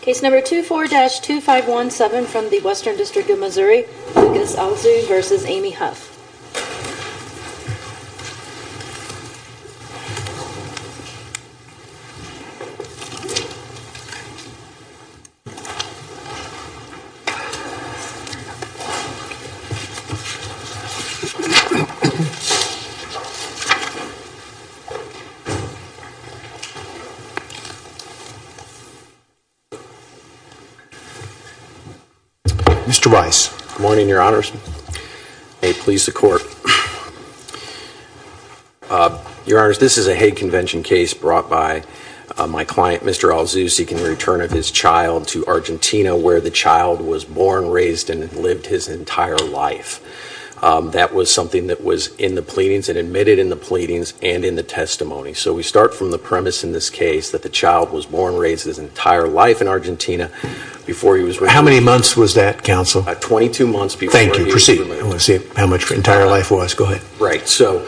Case number 24-2517 from the Western District of Missouri, Lucas Alzu v. Amy Huff Mr. Rice. Good morning, Your Honors. May it please the Court. Your Honors, this is a Hague Convention case brought by my client, Mr. Alzu, seeking the return of his child to Argentina where the child was born, raised, and lived his entire life. That was something that was in the pleadings and admitted in the pleadings and in the testimony. So we start from the premise in this case that the child was born, raised, and his entire life in Argentina before he was released. How many months was that, Counsel? Twenty-two months before he was released. Thank you. Proceed. I want to see how much his entire life was. Go ahead. Right. So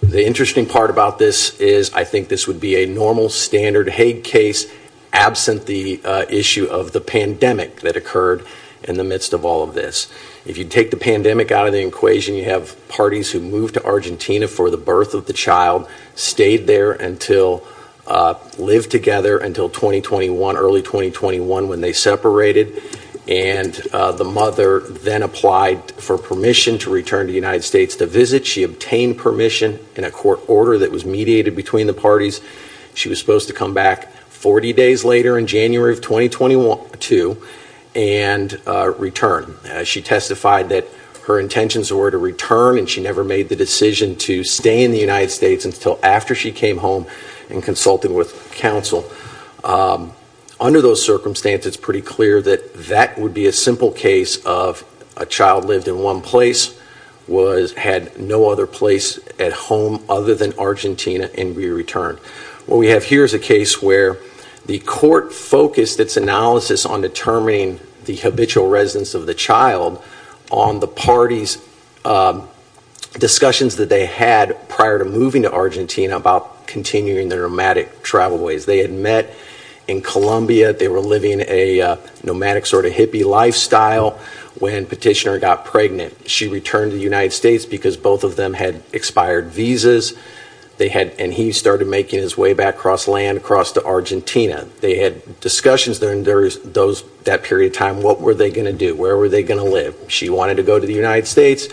the interesting part about this is I think this would be a normal, standard Hague case absent the issue of the pandemic that occurred in the midst of all of this. If you take the pandemic out of the equation, you have parties who moved to Argentina for the birth of the child, stayed there and lived together until early 2021 when they separated. And the mother then applied for permission to return to the United States to visit. She obtained permission in a court order that was mediated between the parties. She was supposed to come back 40 days later in January of 2022 and return. She testified that her intentions were to return and she never made the decision to stay in the United States until after she came home and consulted with counsel. Under those circumstances, it's pretty clear that that would be a simple case of a child lived in one place, had no other place at home other than Argentina, and we returned. What we have here is a case where the court focused its analysis on determining the habitual residence of the child on the parties' discussions that they had prior to moving to Argentina about continuing their nomadic travel ways. They had met in Colombia. They were living a nomadic sort of hippie lifestyle when Petitioner got pregnant. She returned to the United States because both of them had expired visas. And he started making his way back across land, across to Argentina. They had discussions during that period of time. What were they going to do? Where were they going to live? She wanted to go to the United States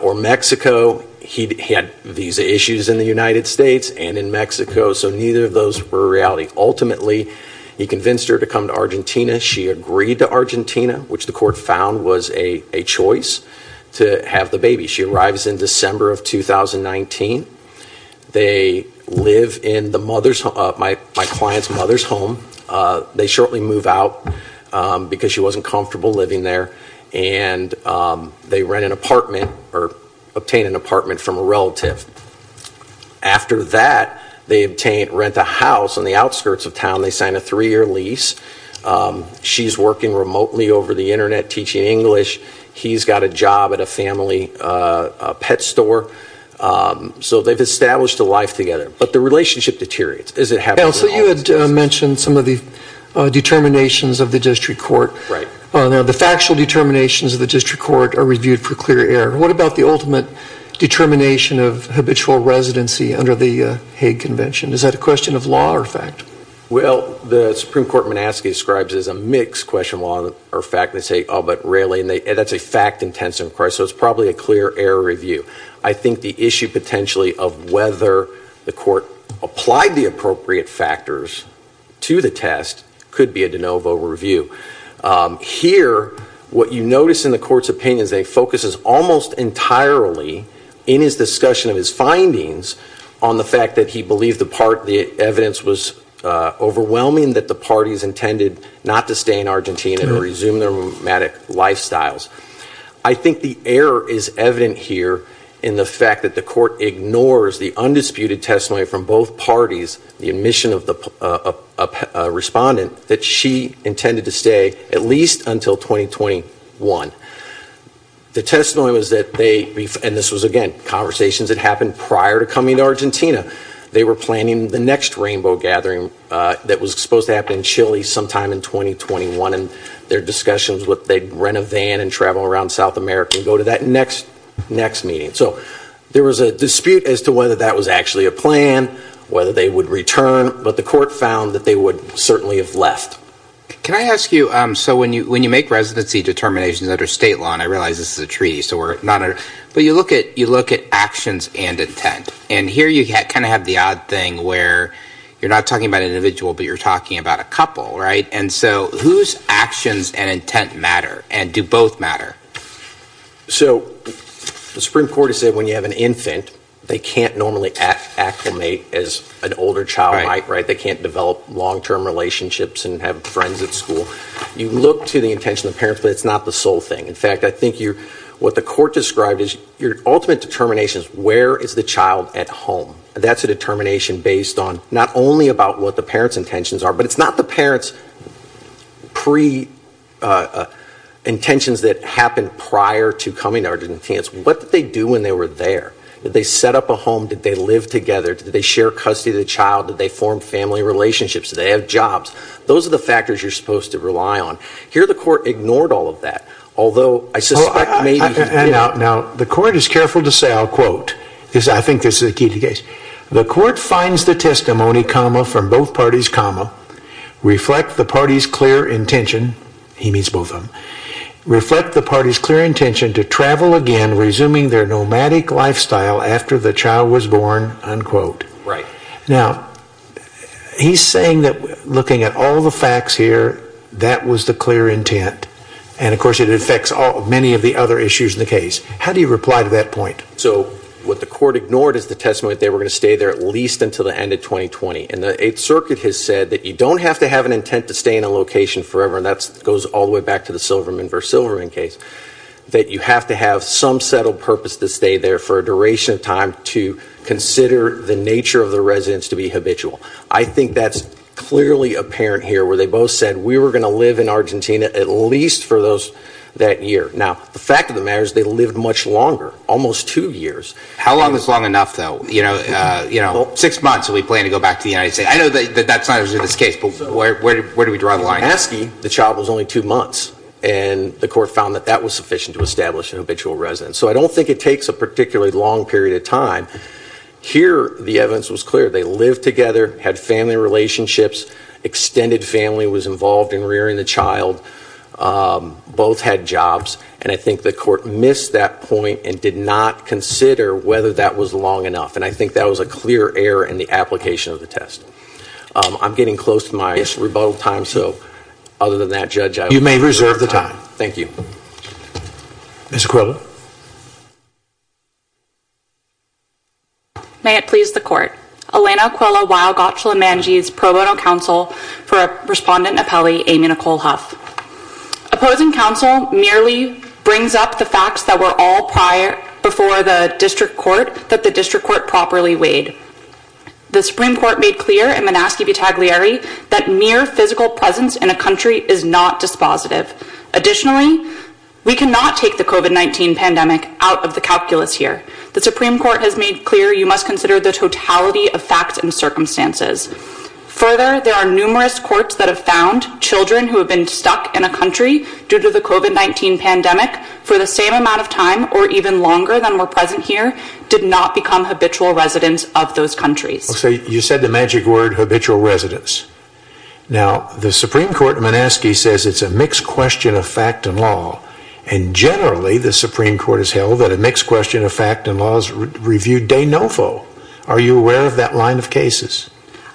or Mexico. He had visa issues in the United States and in Mexico, so neither of those were a reality. Ultimately, he convinced her to come to Argentina. She agreed to Argentina, which the court found was a choice to have the baby. She arrives in December of 2019. They live in my client's mother's home. They shortly move out because she wasn't comfortable living there, and they rent an apartment or obtain an apartment from a relative. After that, they rent a house on the outskirts of town. They sign a three-year lease. She's working remotely over the Internet teaching English. He's got a job at a family pet store. So they've established a life together. But the relationship deteriorates as it happens. Now, so you had mentioned some of the determinations of the district court. Right. Now, the factual determinations of the district court are reviewed for clear error. What about the ultimate determination of habitual residency under the Hague Convention? Is that a question of law or fact? Well, the Supreme Court in Manassas describes it as a mixed question of law or fact. They say, oh, but really? And that's a fact-intensive request, so it's probably a clear error review. I think the issue potentially of whether the court applied the appropriate factors to the test could be a de novo review. Here, what you notice in the court's opinion is that it focuses almost entirely in his discussion of his findings on the fact that he believed the part, the evidence was overwhelming that the parties intended not to stay in Argentina or resume their nomadic lifestyles. I think the error is evident here in the fact that the court ignores the undisputed testimony from both parties, the admission of the respondent that she intended to stay at least until 2021. The testimony was that they, and this was, again, conversations that happened prior to coming to Argentina. They were planning the next rainbow gathering that was supposed to happen in Chile sometime in 2021, and their discussion was that they'd rent a van and travel around South America and go to that next meeting. So there was a dispute as to whether that was actually a plan, whether they would return, but the court found that they would certainly have left. Can I ask you, so when you make residency determinations under state law, and I realize this is a treaty, but you look at actions and intent, and here you kind of have the odd thing where you're not talking about an individual, but you're talking about a couple, right? And so whose actions and intent matter, and do both matter? So the Supreme Court has said when you have an infant, they can't normally acclimate as an older child might, right? They can't develop long-term relationships and have friends at school. You look to the intention of the parents, but it's not the sole thing. In fact, I think what the court described is your ultimate determination is where is the child at home? That's a determination based on not only about what the parents' intentions are, but it's not the parents' pre-intentions that happened prior to coming to Argentina. It's what did they do when they were there? Did they set up a home? Did they live together? Did they share custody of the child? Did they form family relationships? Did they have jobs? Those are the factors you're supposed to rely on. Here the court ignored all of that, although I suspect maybe... Now, the court is careful to say, I'll quote, because I think this is a key case. The court finds the testimony, comma, from both parties, comma, reflect the party's clear intention, he means both of them, reflect the party's clear intention to travel again, resuming their nomadic lifestyle after the child was born, unquote. Now, he's saying that looking at all the facts here, that was the clear intent, and of course it affects many of the other issues in the case. How do you reply to that point? So, what the court ignored is the testimony that they were going to stay there at least until the end of 2020, and the Eighth Circuit has said that you don't have to have an intent to stay in a location forever, and that goes all the way back to the Silverman v. Silverman case, that you have to have some settled purpose to stay there for a duration of time to consider the nature of the residence to be habitual. I think that's clearly apparent here, where they both said, we were going to live in Argentina at least for that year. Now, the fact of the matter is they lived much longer, almost two years. How long is long enough, though? You know, six months, are we planning to go back to the United States? I know that's not usually the case, but where do we draw the line? If you're asking, the child was only two months, and the court found that that was sufficient to establish an habitual residence. So I don't think it takes a particularly long period of time. Here, the evidence was clear. They lived together, had family relationships, extended family was involved in rearing the child, both had jobs, and I think the court missed that point and did not consider whether that was long enough, and I think that was a clear error in the application of the test. I'm getting close to my rebuttal time, so other than that, Judge, I will reserve the time. Thank you. Ms. Coelho. May it please the Court. Elena Coelho, while gotula manjis, pro bono counsel for Respondent Apelli, Amy Nicole Huff. Opposing counsel merely brings up the facts that were all prior, before the district court, that the district court properly weighed. The Supreme Court made clear in Manaski v. Tagliari that mere physical presence in a country is not dispositive. Additionally, we cannot take the COVID-19 pandemic out of the calculus here. The Supreme Court has made clear you must consider the totality of facts and circumstances. Further, there are numerous courts that have found children who have been stuck in a country due to the COVID-19 pandemic for the same amount of time or even longer than were present here did not become habitual residents of those countries. You said the magic word, habitual residents. Now, the Supreme Court in Manaski says it's a mixed question of fact and law. And generally, the Supreme Court has held that a mixed question of fact and law is reviewed de novo. Are you aware of that line of cases?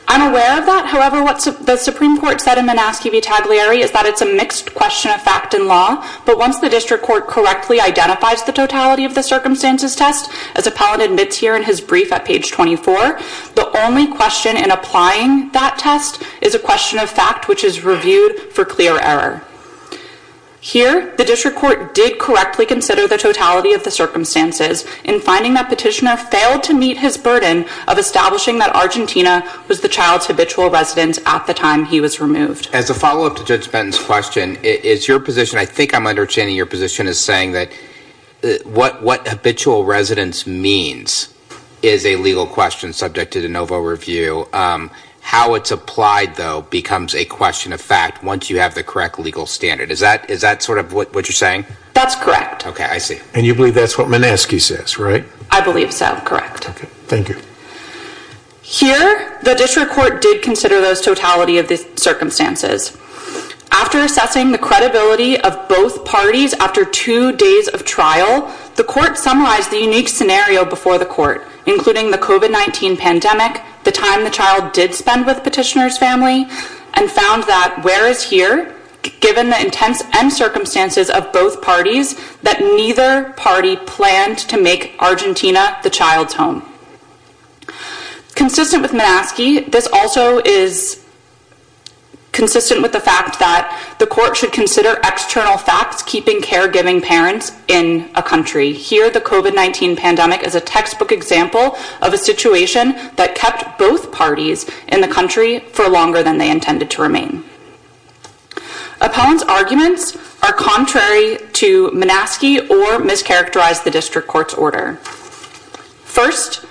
I'm aware of that. However, what the Supreme Court said in Manaski v. Tagliari is that it's a mixed question of fact and law. But once the district court correctly identifies the totality of the circumstances test, as appellant admits here in his brief at page 24, the only question in applying that test is a question of fact which is reviewed for clear error. Here, the district court did correctly consider the totality of the circumstances in finding that petitioner failed to meet his burden of establishing that Argentina was the child's habitual residence at the time he was removed. As a follow-up to Judge Benton's question, is your position, I think I'm understanding your position as saying that what habitual residence means is a legal question subject to de novo review. How it's applied, though, becomes a question of fact once you have the correct legal standard. Is that sort of what you're saying? That's correct. Okay, I see. And you believe that's what Manaski says, right? I believe so, correct. Okay, thank you. Here, the district court did consider those totality of the circumstances. After assessing the credibility of both parties after two days of trial, the court summarized the unique scenario before the court, including the COVID-19 pandemic, the time the child did spend with petitioner's family, and found that, whereas here, given the intents and circumstances of both parties, that neither party planned to make Argentina the child's home. Consistent with Manaski, this also is consistent with the fact that the court should consider external facts keeping caregiving parents in a country. Here, the COVID-19 pandemic is a textbook example of a situation that kept both parties in the country for longer than they intended to remain. Appellant's arguments are contrary to Manaski or mischaracterize the district court's order. First,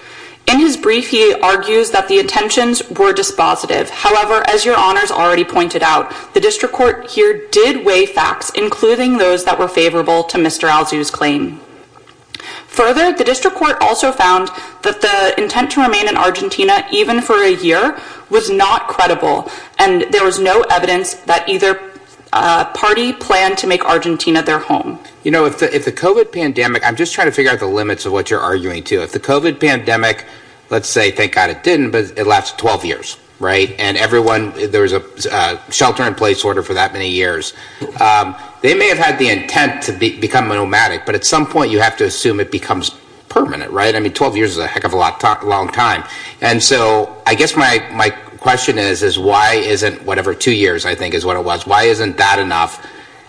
in his brief, he argues that the intentions were dispositive. However, as your honors already pointed out, the district court here did weigh facts, including those that were favorable to Mr. Alzu's claim. Further, the district court also found that the intent to remain in Argentina, even for a year, was not credible, and there was no evidence that either party planned to make Argentina their home. You know, if the COVID pandemic, I'm just trying to figure out the limits of what you're arguing too. If the COVID pandemic, let's say, thank God it didn't, but it lasted 12 years, right? And everyone, there was a shelter-in-place order for that many years. They may have had the intent to become nomadic, but at some point you have to assume it becomes permanent, right? I mean, 12 years is a heck of a long time. And so, I guess my question is, is why isn't, whatever, two years, I think is what it was. Why isn't that enough?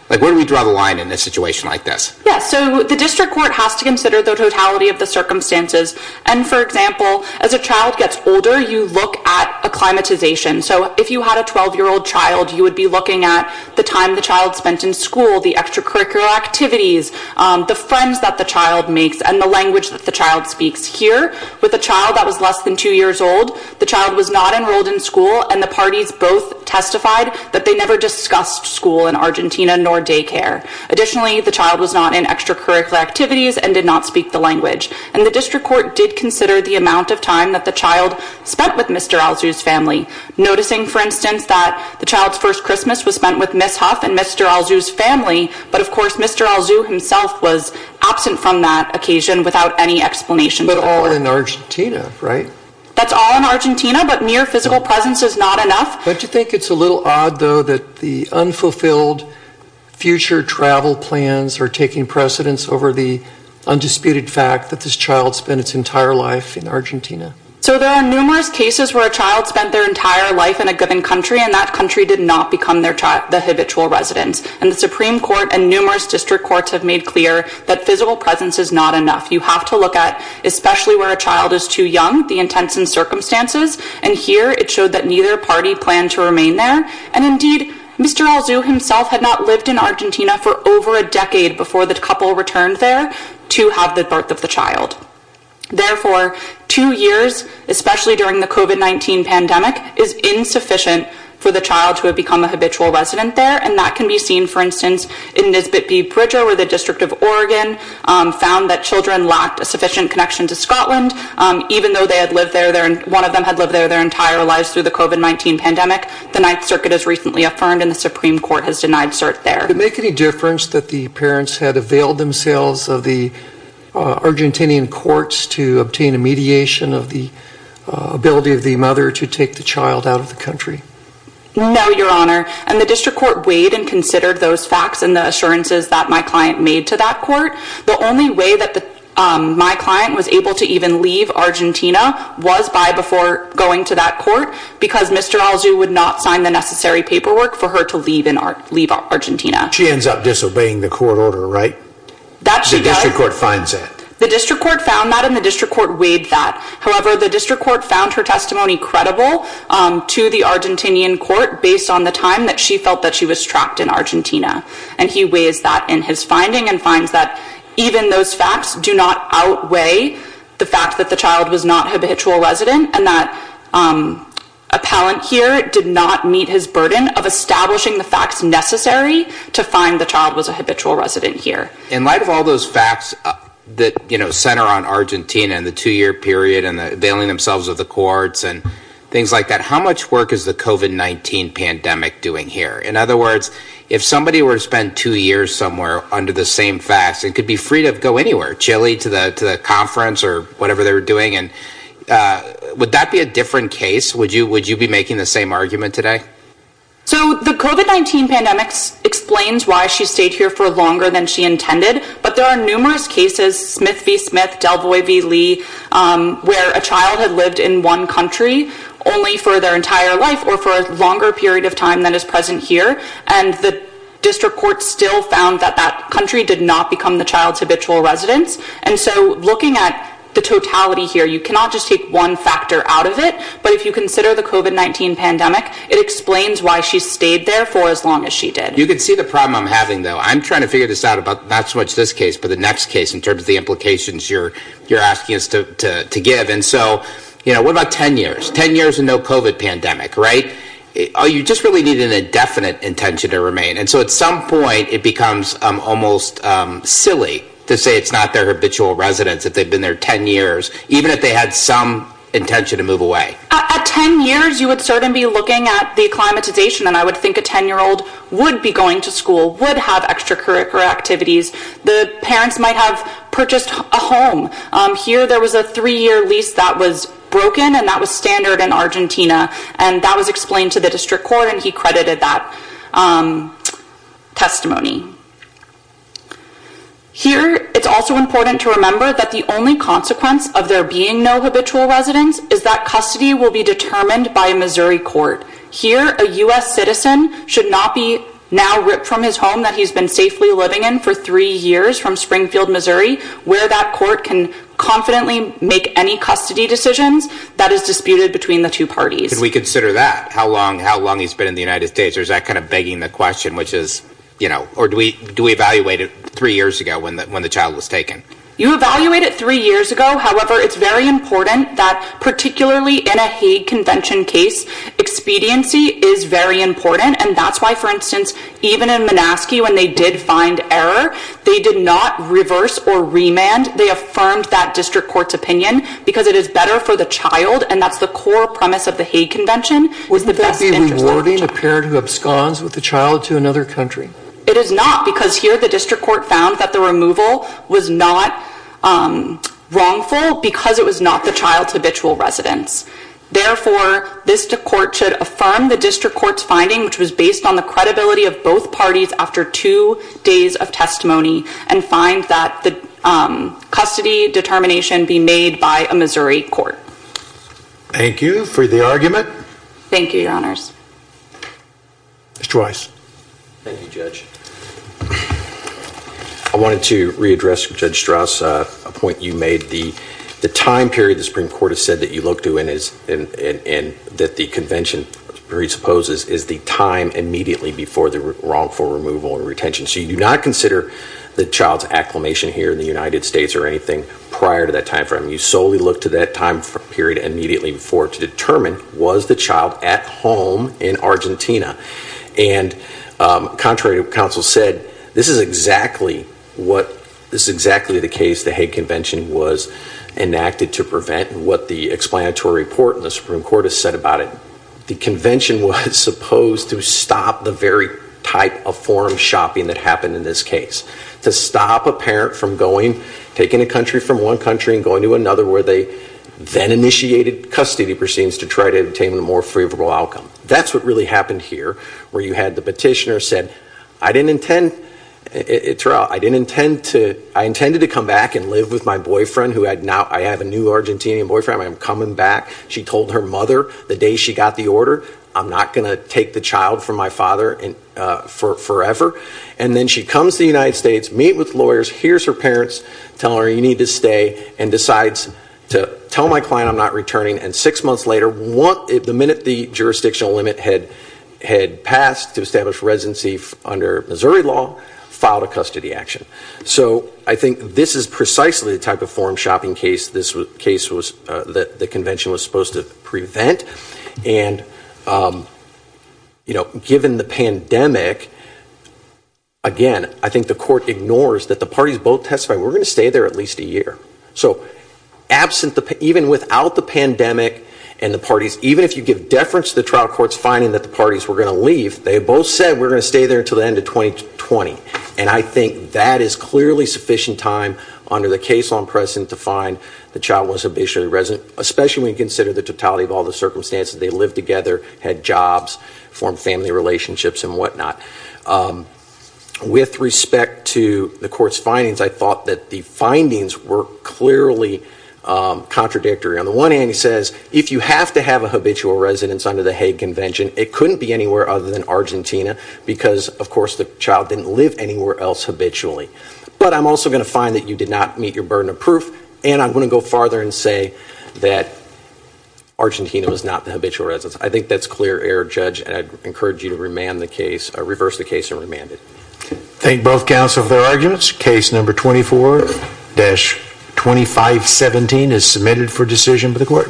Like, where do we draw the line in a situation like this? Yeah, so the district court has to consider the totality of the circumstances. And, for example, as a child gets older, you look at acclimatization. So, if you had a 12-year-old child, you would be looking at the time the child spent in school, the extracurricular activities, the friends that the child makes, and the language that the child speaks. Here, with a child that was less than two years old, the child was not enrolled in school, and the parties both testified that they never discussed school in Argentina, nor daycare. Additionally, the child was not in extracurricular activities and did not speak the language. And the district court did consider the amount of time that the child spent with Mr. Alzu's family. Noticing, for instance, that the child's first Christmas was spent with Miss Huff and Mr. Alzu's family, but, of course, Mr. Alzu himself was absent from that occasion without any explanation. But all in Argentina, right? That's all in Argentina, but mere physical presence is not enough. Don't you think it's a little odd, though, that the unfulfilled future travel plans are taking precedence over the undisputed fact that this child spent its entire life in Argentina? So, there are numerous cases where a child spent their entire life in a given country, and that country did not become the habitual residence. And the Supreme Court and numerous district courts have made clear that physical presence is not enough. You have to look at, especially where a child is too young, the intents and circumstances. And here, it showed that neither party planned to remain there. And, indeed, Mr. Alzu himself had not lived in Argentina for over a decade before the couple returned there to have the birth of the child. Therefore, two years, especially during the COVID-19 pandemic, is insufficient for the child to have become a habitual resident there. And that can be seen, for instance, in Nisbet B. Bridger, where the District of Oregon found that children lacked a sufficient connection to Scotland, even though one of them had lived there their entire lives through the COVID-19 pandemic. The Ninth Circuit has recently affirmed, and the Supreme Court has denied cert there. Did it make any difference that the parents had availed themselves of the Argentinian courts to obtain a mediation of the ability of the mother to take the child out of the country? No, Your Honor. And the District Court weighed and considered those facts and the assurances that my client made to that court. The only way that my client was able to even leave Argentina was by before going to that court because Mr. Alzu would not sign the necessary paperwork for her to leave Argentina. She ends up disobeying the court order, right? That she does. The District Court finds that? The District Court found that, and the District Court weighed that. However, the District Court found her testimony credible to the Argentinian court based on the time that she felt that she was trapped in Argentina. And he weighs that in his finding and finds that even those facts do not outweigh the fact that the child was not a habitual resident and that appellant here did not meet his burden of establishing the facts necessary to find the child was a habitual resident here. In light of all those facts that, you know, center on Argentina and the two-year period and availing themselves of the courts and things like that, how much work is the COVID-19 pandemic doing here? In other words, if somebody were to spend two years somewhere under the same facts, they could be free to go anywhere, Chile to the conference or whatever they were doing. Would that be a different case? Would you be making the same argument today? So the COVID-19 pandemic explains why she stayed here for longer than she intended, but there are numerous cases, Smith v. Smith, Delvoy v. Lee, where a child had lived in one country only for their entire life or for a longer period of time than is present here. And the district court still found that that country did not become the child's habitual residence. And so looking at the totality here, you cannot just take one factor out of it. But if you consider the COVID-19 pandemic, it explains why she stayed there for as long as she did. You can see the problem I'm having, though. I'm trying to figure this out about not so much this case, but the next case in terms of the implications you're asking us to give. And so, you know, what about 10 years? 10 years and no COVID pandemic, right? You just really need an indefinite intention to remain. And so at some point it becomes almost silly to say it's not their habitual residence if they've been there 10 years, even if they had some intention to move away. At 10 years, you would certainly be looking at the acclimatization. And I would think a 10-year-old would be going to school, would have extracurricular activities. The parents might have purchased a home. Here, there was a three-year lease that was broken, and that was standard in Argentina. And that was explained to the district court, and he credited that testimony. Here, it's also important to remember that the only consequence of there being no habitual residence is that custody will be determined by a Missouri court. Here, a U.S. citizen should not be now ripped from his home that he's been safely living in for three years from Springfield, Missouri, where that court can confidently make any custody decisions that is disputed between the two parties. Could we consider that, how long he's been in the United States? Or is that kind of begging the question, which is, you know, or do we evaluate it three years ago when the child was taken? You evaluate it three years ago. However, it's very important that, particularly in a Hague Convention case, expediency is very important. And that's why, for instance, even in Monaskey, when they did find error, they did not reverse or remand. They affirmed that district court's opinion because it is better for the child, and that's the core premise of the Hague Convention. Would that be rewarding a parent who absconds with a child to another country? It is not because here the district court found that the removal was not wrongful because it was not the child's habitual residence. Therefore, this court should affirm the district court's finding, which was based on the credibility of both parties after two days of testimony, and find that the custody determination be made by a Missouri court. Thank you for the argument. Thank you, Your Honors. Mr. Weiss. Thank you, Judge. I wanted to readdress Judge Strauss' point you made. The time period the Supreme Court has said that you look to and that the Convention presupposes is the time immediately before the wrongful removal or retention. So you do not consider the child's acclimation here in the United States or anything prior to that time frame. You solely look to that time period immediately before to determine, was the child at home in Argentina? And contrary to what counsel said, this is exactly the case the Hague Convention was enacted to prevent and what the explanatory report in the Supreme Court has said about it. The Convention was supposed to stop the very type of forum shopping that happened in this case, to stop a parent from going, taking a country from one country and going to another where they then initiated custody proceedings to try to obtain a more favorable outcome. That's what really happened here, where you had the petitioner said, I didn't intend to, I intended to come back and live with my boyfriend who had now, I have a new Argentinian boyfriend, I'm coming back. She told her mother the day she got the order, I'm not going to take the child from my father forever. And then she comes to the United States, meets with lawyers, hears her parents tell her, you need to stay, and decides to tell my client I'm not returning. And six months later, the minute the jurisdictional limit had passed to establish residency under Missouri law, filed a custody action. So I think this is precisely the type of forum shopping case the Convention was supposed to prevent. And given the pandemic, again, I think the court ignores that the parties both testified, we're going to stay there at least a year. So absent, even without the pandemic and the parties, even if you give deference to the trial court's finding that the parties were going to leave, they both said we're going to stay there until the end of 2020. And I think that is clearly sufficient time under the case law in precedent to find the child was officially resident, especially when you consider the totality of all the circumstances. They lived together, had jobs, formed family relationships and whatnot. With respect to the court's findings, I thought that the findings were clearly contradictory. On the one hand, it says if you have to have a habitual residence under the Hague Convention, it couldn't be anywhere other than Argentina because, of course, the child didn't live anywhere else habitually. But I'm also going to find that you did not meet your burden of proof, and I'm going to go farther and say that Argentina was not the habitual residence. I think that's clear error, Judge, and I encourage you to reverse the case and remand it. Thank both counsel for their arguments. Case number 24-2517 is submitted for decision by the court.